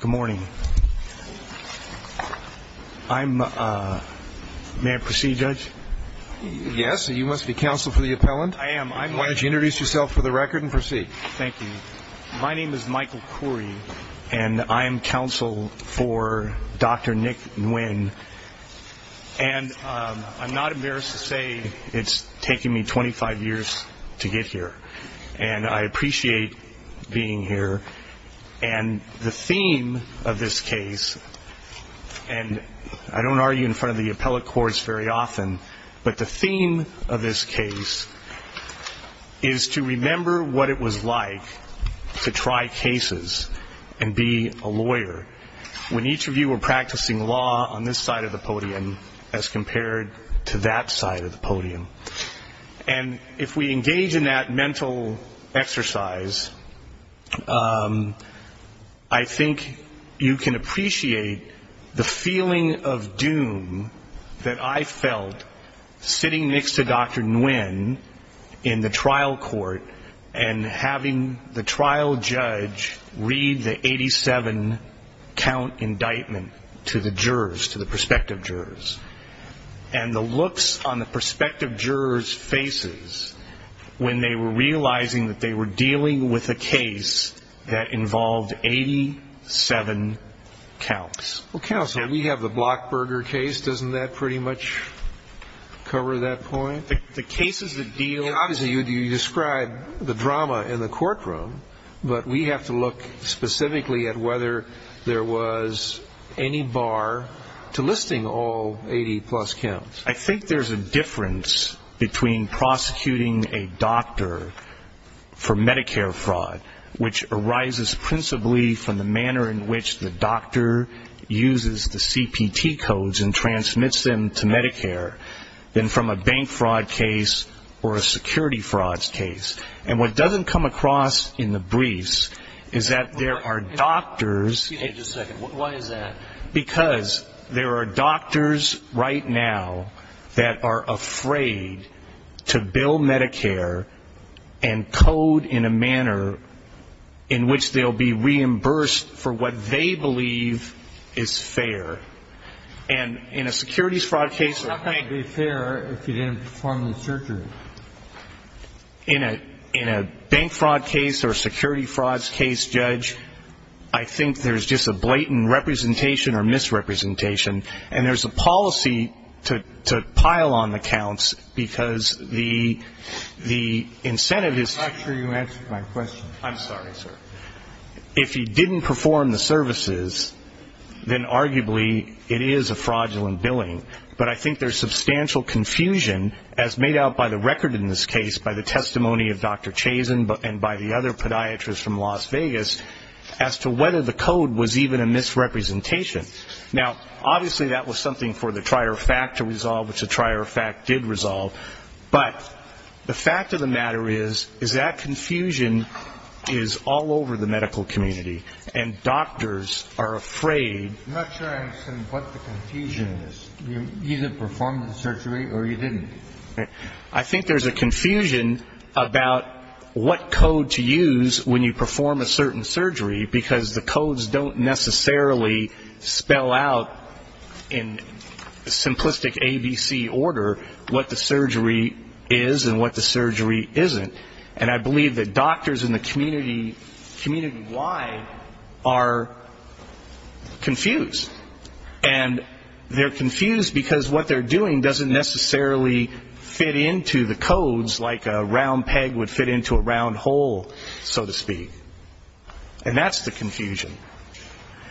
Good morning. May I proceed, Judge? Yes, you must be counsel for the appellant. I am. Why don't you introduce yourself for the record and proceed. Thank you. My name is Michael Khoury, and I am counsel for Dr. Nick Nguyen. And I'm not embarrassed to say it's taken me 25 years to get here, and I appreciate being here. And the theme of this case, and I don't argue in front of the appellate courts very often, but the theme of this case is to remember what it was like to try cases and be a lawyer when each of you were practicing law on this side of the podium as compared to that side of the podium. And if we engage in that mental exercise, I think you can appreciate the feeling of doom that I felt sitting next to Dr. Nguyen in the trial court and having the trial judge read the 87-count indictment to the jurors, to the prospective jurors, and the looks on the prospective jurors' faces when they were realizing that they were dealing with a case that involved 87 counts. Well, counsel, we have the Blockburger case. Doesn't that pretty much cover that point? The cases that deal – Obviously, you describe the drama in the courtroom, but we have to look specifically at whether there was any bar to listing all 80-plus counts. I think there's a difference between prosecuting a doctor for Medicare fraud, which arises principally from the manner in which the doctor uses the CPT codes and transmits them to Medicare, than from a bank fraud case or a security frauds case. And what doesn't come across in the briefs is that there are doctors – Excuse me just a second. Why is that? Because there are doctors right now that are afraid to bill Medicare and code in a manner in which they'll be reimbursed for what they believe is fair. And in a securities fraud case – It's not going to be fair if you didn't perform the surgery. In a bank fraud case or a security frauds case, Judge, I think there's just a blatant representation or misrepresentation. And there's a policy to pile on the counts because the incentive is – I'm not sure you answered my question. I'm sorry, sir. If you didn't perform the services, then arguably it is a fraudulent billing. But I think there's substantial confusion, as made out by the record in this case, by the testimony of Dr. Chazen and by the other podiatrists from Las Vegas, as to whether the code was even a misrepresentation. Now, obviously that was something for the trier of fact to resolve, which the trier of fact did resolve. But the fact of the matter is that confusion is all over the medical community. And doctors are afraid – I'm not sure I understand what the confusion is. You either performed the surgery or you didn't. I think there's a confusion about what code to use when you perform a certain surgery because the codes don't necessarily spell out in simplistic ABC order what the surgery is and what the surgery isn't. And I believe that doctors in the community wide are confused. And they're confused because what they're doing doesn't necessarily fit into the codes like a round peg would fit into a round hole, so to speak. And that's the confusion.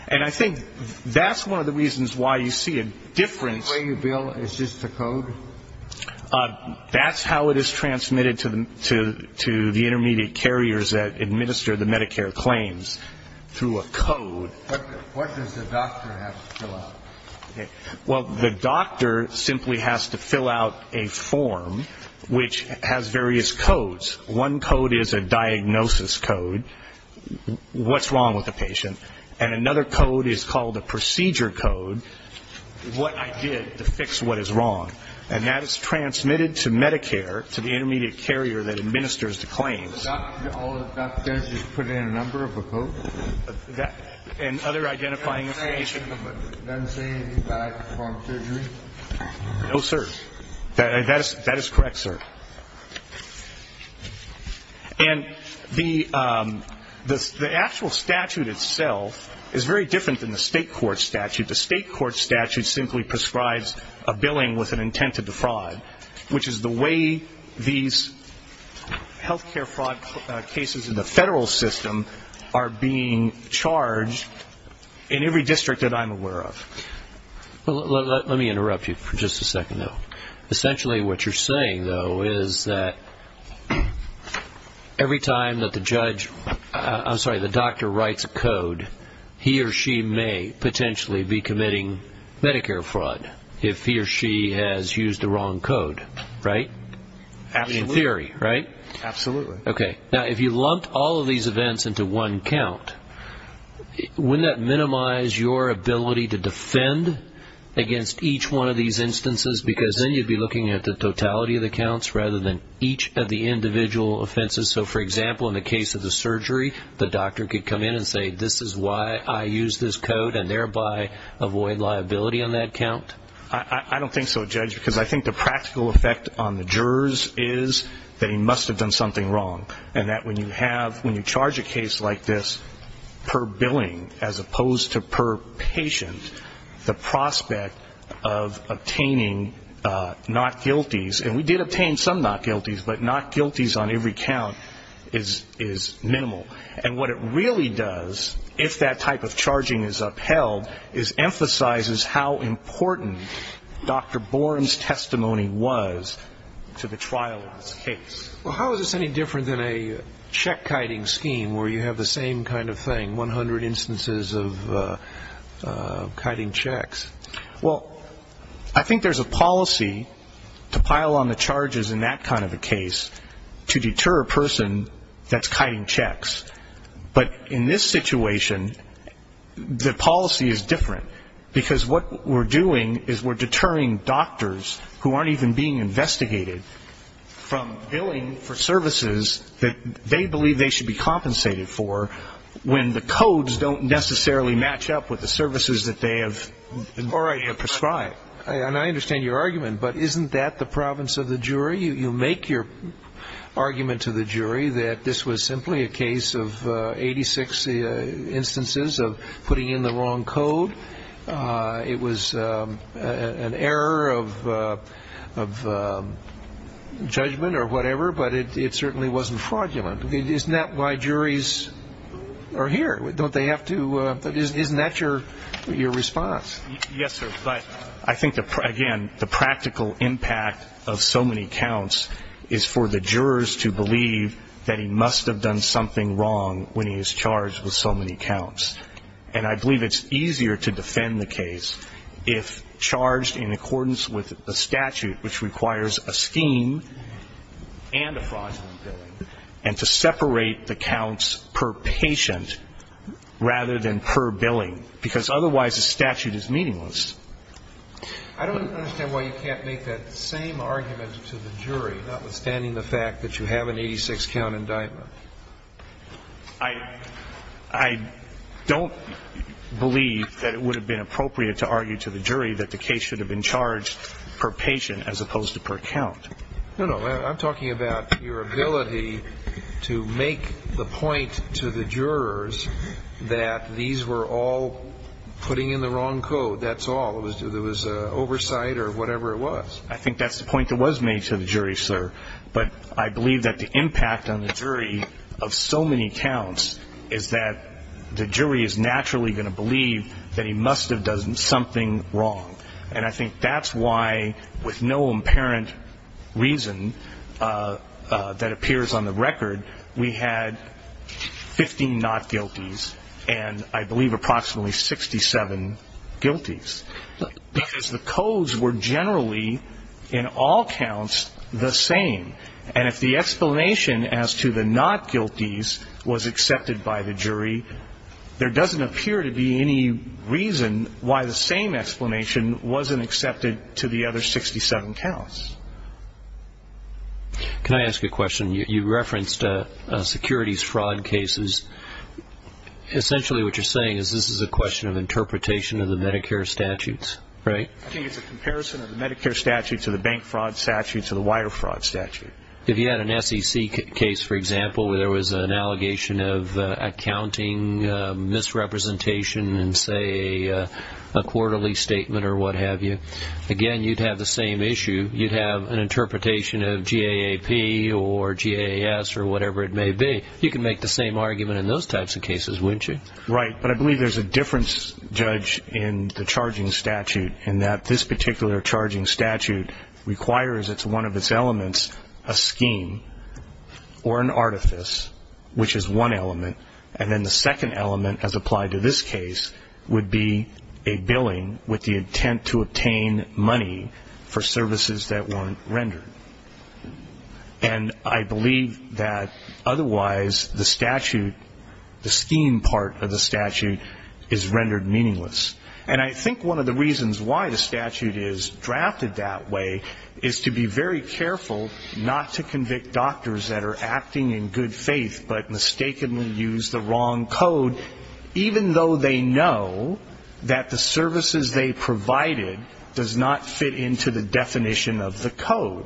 And I think that's one of the reasons why you see a difference. Is this the way you bill? Is this the code? That's how it is transmitted to the intermediate carriers that administer the Medicare claims, through a code. What does the doctor have to fill out? Well, the doctor simply has to fill out a form which has various codes. One code is a diagnosis code, what's wrong with the patient. And another code is called a procedure code, what I did to fix what is wrong. And that is transmitted to Medicare, to the intermediate carrier that administers the claims. All the doctors just put in a number of a code? And other identifying information. Does it say anything about the form of surgery? No, sir. That is correct, sir. And the actual statute itself is very different than the state court statute. The state court statute simply prescribes a billing with an intent to defraud, which is the way these health care fraud cases in the federal system are being charged in every district that I'm aware of. Let me interrupt you for just a second, though. Essentially what you're saying, though, is that every time that the judge, I'm sorry, the doctor writes a code, he or she may potentially be committing Medicare fraud if he or she has used the wrong code, right? Absolutely. In theory, right? Absolutely. Okay. Now, if you lumped all of these events into one count, wouldn't that minimize your ability to defend against each one of these instances? Because then you'd be looking at the totality of the counts rather than each of the individual offenses. So, for example, in the case of the surgery, the doctor could come in and say, this is why I used this code, and thereby avoid liability on that count? I don't think so, Judge, because I think the practical effect on the jurors is that he must have done something wrong, and that when you charge a case like this per billing as opposed to per patient, the prospect of obtaining not guilties, and we did obtain some not guilties, but not guilties on every count is minimal. And what it really does, if that type of charging is upheld, is emphasizes how important Dr. Boren's testimony was to the trial of this case. Well, how is this any different than a check-kiting scheme where you have the same kind of thing, 100 instances of kiting checks? Well, I think there's a policy to pile on the charges in that kind of a case to deter a person that's kiting checks. But in this situation, the policy is different, because what we're doing is we're deterring doctors who aren't even being investigated from billing for services that they believe they should be compensated for when the codes don't necessarily match up with the services that they have prescribed. All right. And I understand your argument, but isn't that the province of the jury? You make your argument to the jury that this was simply a case of 86 instances of putting in the wrong code. It was an error of judgment or whatever, but it certainly wasn't fraudulent. Isn't that why juries are here? Don't they have to? Isn't that your response? Yes, sir. But I think, again, the practical impact of so many counts is for the jurors to believe that he must have done something wrong when he is charged with so many counts. And I believe it's easier to defend the case if charged in accordance with a statute, which requires a scheme and a fraudulent billing, and to separate the counts per patient rather than per billing, because otherwise the statute is meaningless. I don't understand why you can't make that same argument to the jury, notwithstanding the fact that you have an 86-count indictment. I don't believe that it would have been appropriate to argue to the jury that the case should have been charged per patient as opposed to per count. No, no. I'm talking about your ability to make the point to the jurors that these were all putting in the wrong code. That's all. It was oversight or whatever it was. I think that's the point that was made to the jury, sir. But I believe that the impact on the jury of so many counts is that the jury is naturally going to believe that he must have done something wrong. And I think that's why, with no apparent reason that appears on the record, we had 15 not-guilties and I believe approximately 67 guilties, because the codes were generally in all counts the same. And if the explanation as to the not-guilties was accepted by the jury, there doesn't appear to be any reason why the same explanation wasn't accepted to the other 67 counts. Can I ask a question? You referenced securities fraud cases. Essentially what you're saying is this is a question of interpretation of the Medicare statutes, right? I think it's a comparison of the Medicare statutes or the bank fraud statutes or the wire fraud statute. If you had an SEC case, for example, where there was an allegation of accounting misrepresentation and, say, a quarterly statement or what have you, again, you'd have the same issue. You'd have an interpretation of GAAP or GAS or whatever it may be. You can make the same argument in those types of cases, wouldn't you? Right, but I believe there's a difference, Judge, in the charging statute and that this particular charging statute requires as one of its elements a scheme or an artifice, which is one element, and then the second element, as applied to this case, would be a billing with the intent to obtain money for services that weren't rendered. And I believe that otherwise the statute, the scheme part of the statute, is rendered meaningless. And I think one of the reasons why the statute is drafted that way is to be very careful not to convict doctors that are acting in good faith but mistakenly use the wrong code, even though they know that the services they provided does not fit into the definition of the code,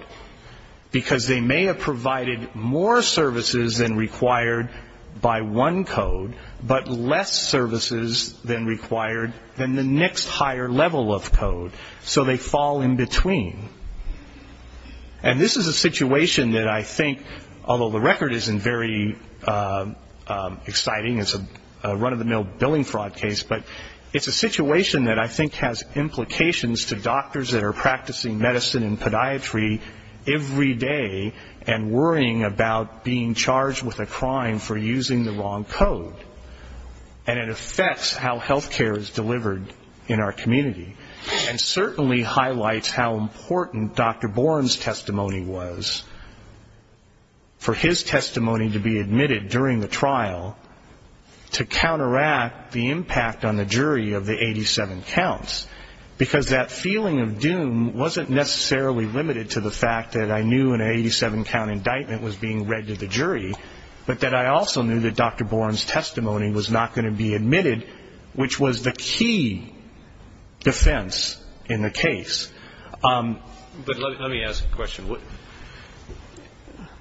because they may have provided more services than required by one code, but less services than required than the next higher level of code, so they fall in between. And this is a situation that I think, although the record isn't very exciting, it's a run-of-the-mill billing fraud case, but it's a situation that I think has implications to doctors that are practicing medicine and podiatry every day and worrying about being charged with a crime for using the wrong code. And it affects how health care is delivered in our community, and certainly highlights how important Dr. Bourne's testimony was for his testimony to be admitted during the trial to counteract the impact on the jury of the 87 counts, because that feeling of doom wasn't necessarily limited to the fact that I knew an 87-count indictment was being read to the jury, but that I also knew that Dr. Bourne's testimony was not going to be admitted, which was the key defense in the case. But let me ask a question.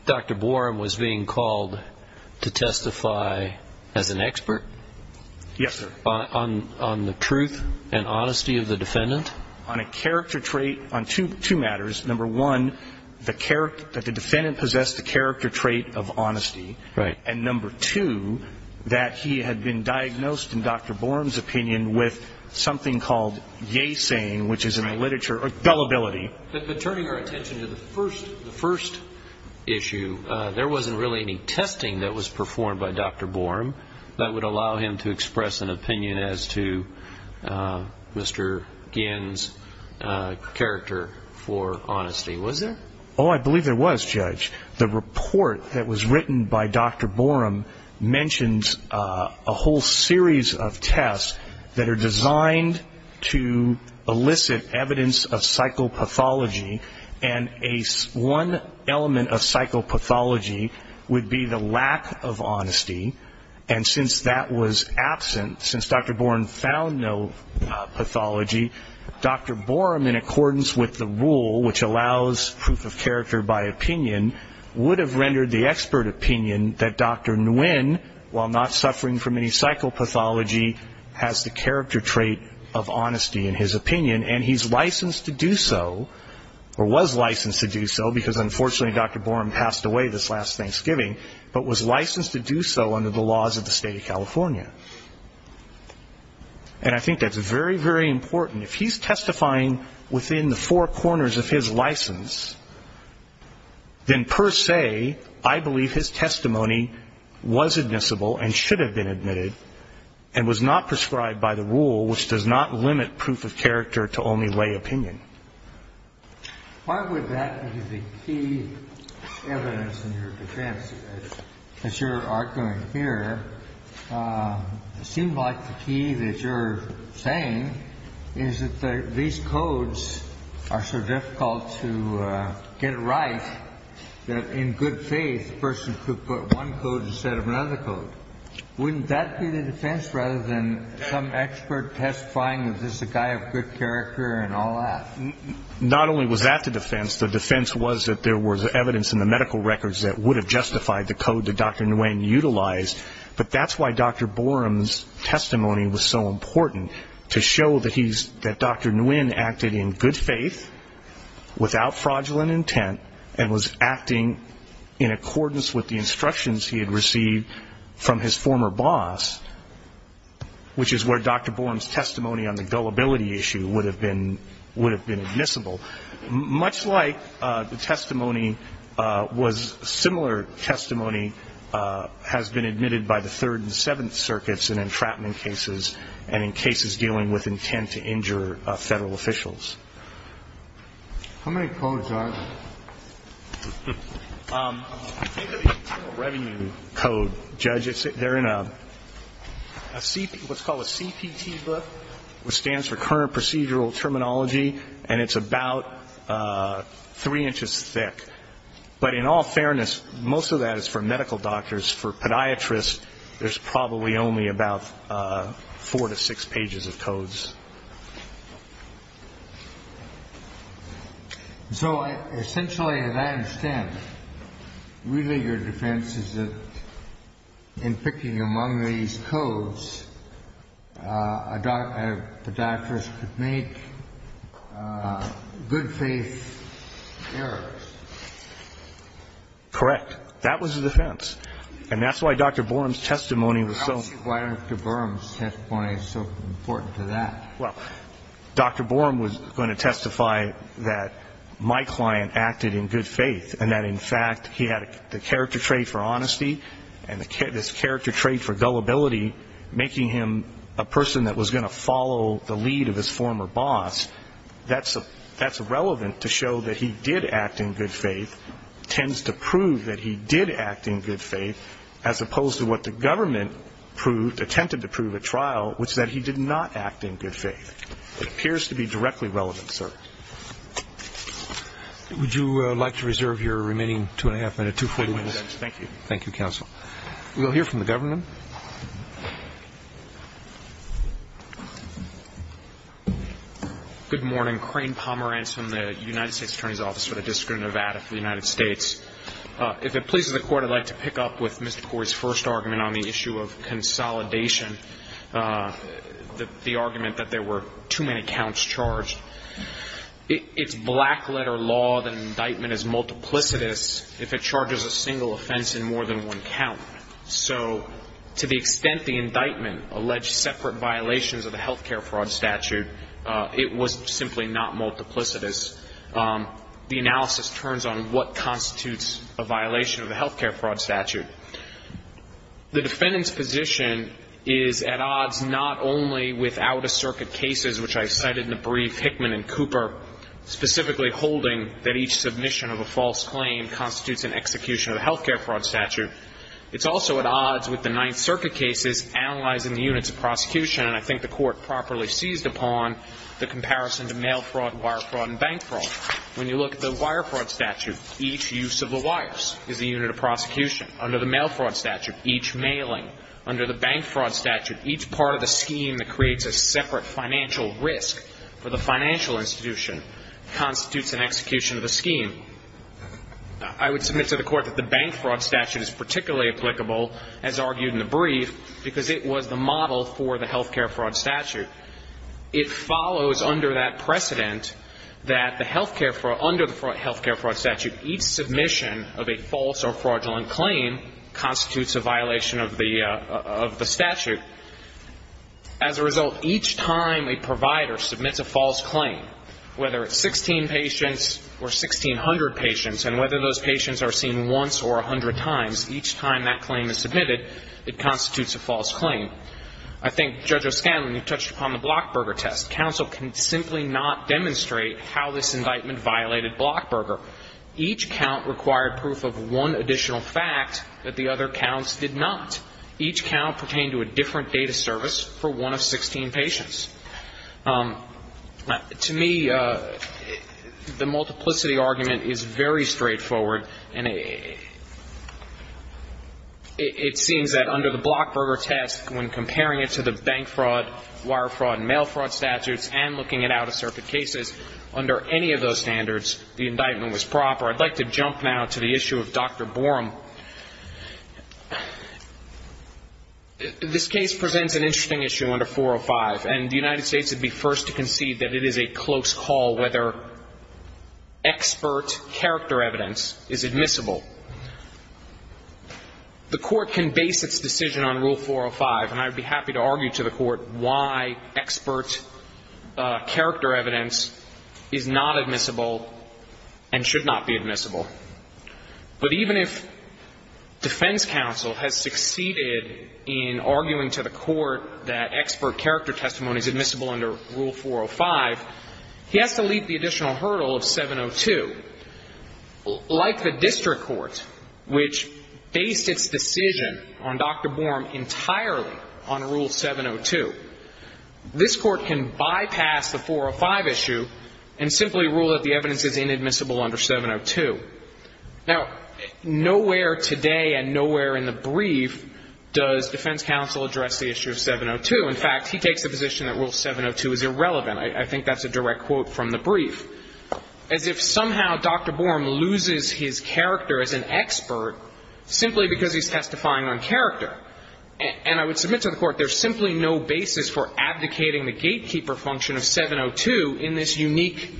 Dr. Bourne was being called to testify as an expert? Yes, sir. On the truth and honesty of the defendant? On two matters. Number one, that the defendant possessed the character trait of honesty, and number two, that he had been diagnosed, in Dr. Bourne's opinion, with something called yasane, which is in the literature, or gullibility. But turning our attention to the first issue, there wasn't really any testing that was performed by Dr. Bourne that would allow him to express an opinion as to Mr. Ginn's character for honesty, was there? Oh, I believe there was, Judge. The report that was written by Dr. Bourne mentions a whole series of tests that are designed to elicit evidence of psychopathology, and one element of psychopathology would be the lack of honesty, and since that was absent, since Dr. Bourne found no pathology, Dr. Bourne, in accordance with the rule which allows proof of character by opinion, would have rendered the expert opinion that Dr. Nguyen, while not suffering from any psychopathology, has the character trait of honesty in his opinion, and he's licensed to do so, or was licensed to do so, because unfortunately Dr. Bourne passed away this last Thanksgiving, but was licensed to do so under the laws of the State of California. And I think that's very, very important. If he's testifying within the four corners of his license, then per se, I believe his testimony was admissible and should have been admitted and was not prescribed by the rule which does not limit proof of character to only lay opinion. Why would that be the key evidence in your defense? As you're arguing here, it seems like the key that you're saying is that these codes are so difficult to get right that in good faith a person could put one code instead of another code. Wouldn't that be the defense rather than some expert testifying that this is a guy of good character and all that? Not only was that the defense. The defense was that there was evidence in the medical records that would have justified the code that Dr. Nguyen utilized, but that's why Dr. Bourne's testimony was so important, to show that Dr. Nguyen acted in good faith without fraudulent intent and was acting in accordance with the instructions he had received from his former boss, which is where Dr. Bourne's testimony on the gullibility issue would have been admissible. Much like the testimony was similar testimony has been admitted by the Third and Seventh Circuits in entrapment cases and in cases dealing with intent to injure Federal officials. How many codes are there? I think of the Internal Revenue Code, Judge. They're in a CPT, what's called a CPT book, which stands for Current Procedural Terminology, and it's about three inches thick. But in all fairness, most of that is for medical doctors. For podiatrists, there's probably only about four to six pages of codes. So essentially, as I understand it, really your defense is that in picking among these codes, a podiatrist could make good faith errors. Correct. That was the defense. And that's why Dr. Bourne's testimony was so important. How is Dr. Bourne's testimony so important to that? Well, Dr. Bourne was going to testify that my client acted in good faith and that, in fact, he had the character trait for honesty and this character trait for gullibility, making him a person that was going to follow the lead of his former boss. And that's relevant to show that he did act in good faith, tends to prove that he did act in good faith, as opposed to what the government proved, attempted to prove at trial, which is that he did not act in good faith. It appears to be directly relevant, sir. Would you like to reserve your remaining two-and-a-half minutes? Thank you. Thank you, counsel. We'll hear from the government. Good morning. Crane Pomerantz from the United States Attorney's Office for the District of Nevada for the United States. If it pleases the Court, I'd like to pick up with Mr. Corey's first argument on the issue of consolidation, the argument that there were too many counts charged. It's black-letter law that an indictment is multiplicitous if it charges a single offense in more than one count. So to the extent the indictment alleged separate violations of the health care fraud statute, it was simply not multiplicitous. The analysis turns on what constitutes a violation of the health care fraud statute. The defendant's position is at odds not only without a circuit cases, which I cited in the brief, Hickman and Cooper, specifically holding that each submission of a false claim constitutes an execution of the health care fraud statute. It's also at odds with the Ninth Circuit cases analyzing the units of prosecution, and I think the Court properly seized upon the comparison to mail fraud, wire fraud, and bank fraud. When you look at the wire fraud statute, each use of the wires is a unit of prosecution. Under the mail fraud statute, each mailing. Under the bank fraud statute, each part of the scheme that creates a separate financial risk for the financial institution constitutes an execution of the scheme. I would submit to the Court that the bank fraud statute is particularly applicable, as argued in the brief, because it was the model for the health care fraud statute. It follows under that precedent that under the health care fraud statute, each submission of a false or fraudulent claim constitutes a violation of the statute. As a result, each time a provider submits a false claim, whether it's 16 patients or 1,600 patients, and whether those patients are seen once or a hundred times, each time that claim is submitted, it constitutes a false claim. I think, Judge O'Scanlan, you touched upon the Blockburger test. Counsel can simply not demonstrate how this indictment violated Blockburger. Each count required proof of one additional fact that the other counts did not. Each count pertained to a different data service for one of 16 patients. To me, the multiplicity argument is very straightforward. It seems that under the Blockburger test, when comparing it to the bank fraud, wire fraud, and mail fraud statutes, and looking at out-of-circuit cases, under any of those standards, the indictment was proper. I'd like to jump now to the issue of Dr. Borum. This case presents an interesting issue under 405, and the United States would be first to concede that it is a close call whether expert character evidence is admissible. The Court can base its decision on Rule 405, and I would be happy to argue to the Court why expert character evidence is not admissible and should not be admissible. But even if defense counsel has succeeded in arguing to the Court that expert character testimony is admissible under Rule 405, he has to leap the additional hurdle of 702. Like the district court, which based its decision on Dr. Borum entirely on Rule 702, this Court can bypass the 405 issue and simply rule that the evidence is inadmissible under 702. Now, nowhere today and nowhere in the brief does defense counsel address the issue of 702. In fact, he takes the position that Rule 702 is irrelevant. I think that's a direct quote from the brief, as if somehow Dr. Borum loses his character as an expert simply because he's testifying on character. And I would submit to the Court there's simply no basis for abdicating the gatekeeper function of 702 in this unique,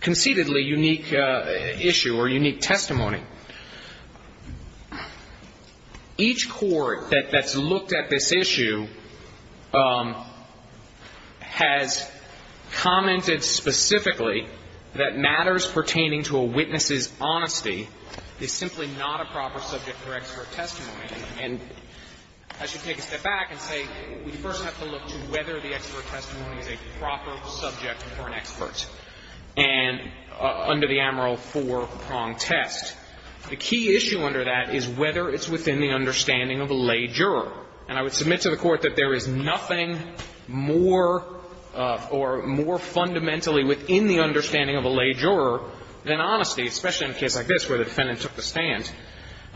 conceitedly unique issue or unique testimony. Each court that's looked at this issue has commented specifically that matters pertaining to a witness's honesty is simply not a proper subject for expert testimony. And I should take a step back and say we first have to look to whether the expert testimony is a proper subject for an expert. And under the Amarill Four Prong test, the key issue under that is whether it's within the understanding of a lay juror. And I would submit to the Court that there is nothing more or more fundamentally within the understanding of a lay juror than honesty, especially in a case like this where the defendant took the stand.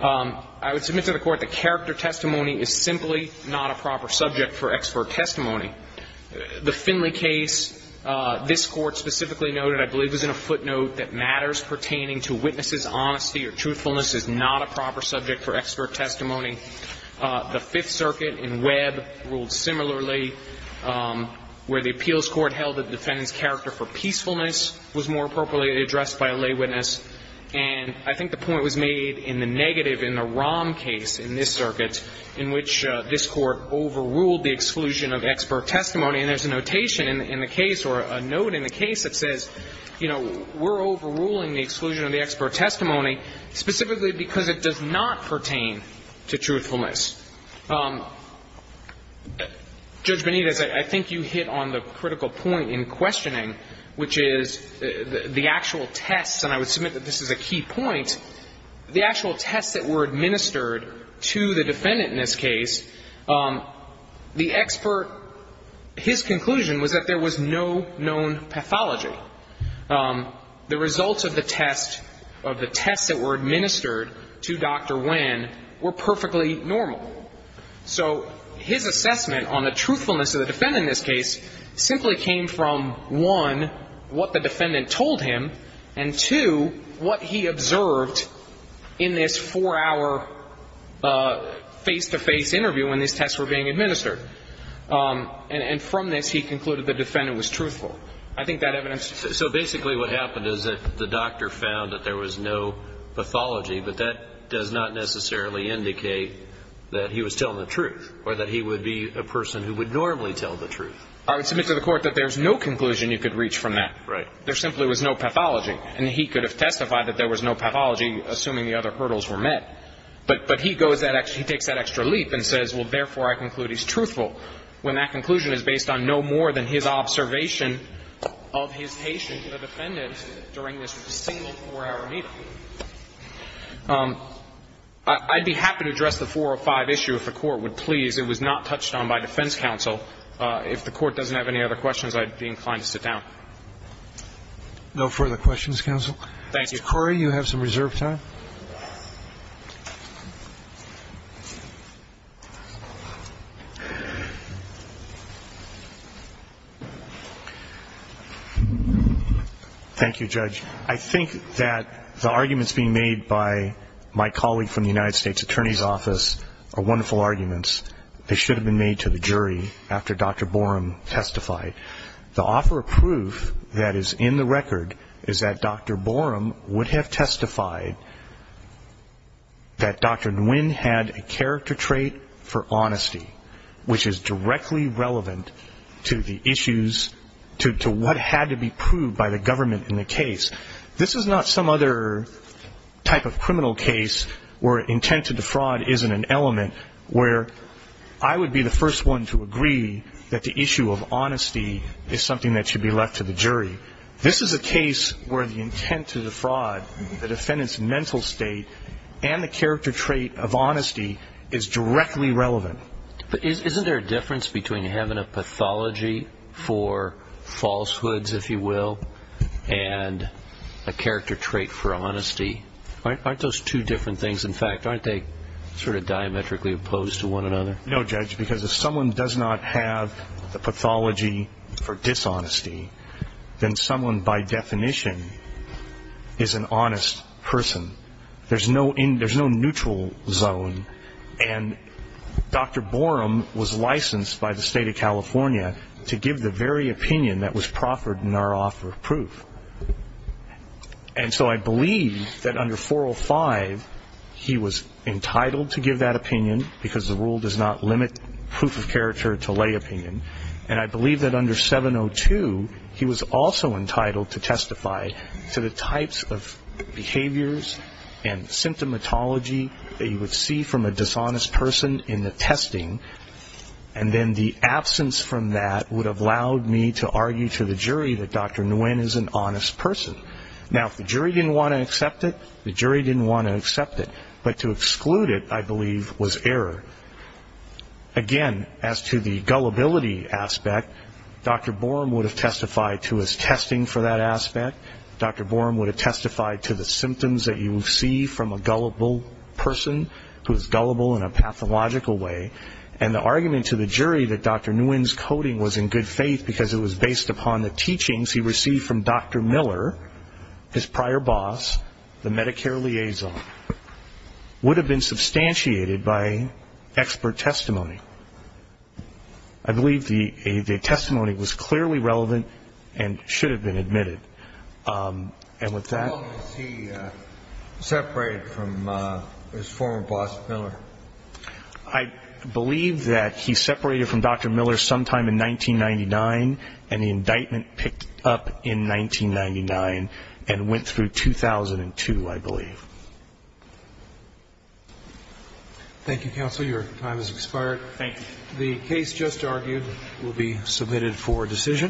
I would submit to the Court that character testimony is simply not a proper subject for expert testimony. The Finley case, this Court specifically noted, I believe, was in a footnote that matters pertaining to witness's honesty or truthfulness is not a proper subject for expert testimony. The Fifth Circuit in Webb ruled similarly, where the appeals court held that the defendant's character for peacefulness was more appropriately addressed by a lay witness. And I think the point was made in the negative in the Rom case in this circuit in which this Court overruled the exclusion of expert testimony. And there's a notation in the case or a note in the case that says, you know, we're overruling the exclusion of the expert testimony specifically because it does not pertain to truthfulness. Judge Benitez, I think you hit on the critical point in questioning, which is the actual tests, and I would submit that this is a key point, the actual tests that were administered to the defendant in this case, the expert, his conclusion was that there was no known pathology. The results of the test, of the tests that were administered to Dr. Wen were perfectly normal. So his assessment on the truthfulness of the defendant in this case simply came from, one, what the defendant told him, and, two, what he observed in this four-hour face-to-face interview when these tests were being administered. And from this, he concluded the defendant was truthful. I think that evidence ---- So basically what happened is that the doctor found that there was no pathology, but that does not necessarily indicate that he was telling the truth or that he would be a person who would normally tell the truth. I would submit to the Court that there's no conclusion you could reach from that. Right. There simply was no pathology. And he could have testified that there was no pathology, assuming the other hurdles were met. But he goes that extra ---- he takes that extra leap and says, well, therefore, I conclude he's truthful, when that conclusion is based on no more than his observation of his patient, the defendant, during this single four-hour meeting. I'd be happy to address the 405 issue if the Court would please. It was not touched on by defense counsel. If the Court doesn't have any other questions, I'd be inclined to sit down. No further questions, counsel? Thank you. Mr. Corey, you have some reserved time. Thank you, Judge. I think that the arguments being made by my colleague from the United States Attorney's Office are wonderful arguments that should have been made to the jury after Dr. Borum testified. The offer of proof that is in the record is that Dr. Borum would have testified that Dr. Nguyen had a character trait for honesty, which is directly relevant to the issues, to what had to be proved by the government in the case. This is not some other type of criminal case where intent to defraud isn't an element, where I would be the first one to agree that the issue of honesty is something that should be left to the jury. This is a case where the intent to defraud, the defendant's mental state, and the character trait of honesty is directly relevant. But isn't there a difference between having a pathology for falsehoods, if you will, and a character trait for honesty? Aren't those two different things? In fact, aren't they sort of diametrically opposed to one another? No, Judge, because if someone does not have the pathology for dishonesty, then someone, by definition, is an honest person. There's no neutral zone, and Dr. Borum was licensed by the State of California to give the very opinion that was proffered in our offer of proof. And so I believe that under 405, he was entitled to give that opinion because the rule does not limit proof of character to lay opinion. And I believe that under 702, he was also entitled to testify to the types of behaviors and symptomatology that you would see from a dishonest person in the testing, and then the absence from that would have allowed me to argue to the jury that Dr. Nguyen is an honest person. Now, if the jury didn't want to accept it, the jury didn't want to accept it. But to exclude it, I believe, was error. Again, as to the gullibility aspect, Dr. Borum would have testified to his testing for that aspect. Dr. Borum would have testified to the symptoms that you would see from a gullible person who is gullible in a pathological way. And the argument to the jury that Dr. Nguyen's coding was in good faith because it was based upon the teachings he received from Dr. Miller, his prior boss, the Medicare liaison, would have been substantiated by expert testimony. I believe the testimony was clearly relevant and should have been admitted. And with that ---- How long was he separated from his former boss, Miller? I believe that he separated from Dr. Miller sometime in 1999, and the indictment picked up in 1999 and went through 2002, I believe. Thank you, counsel. Your time has expired. Thank you. The case just argued will be submitted for decision.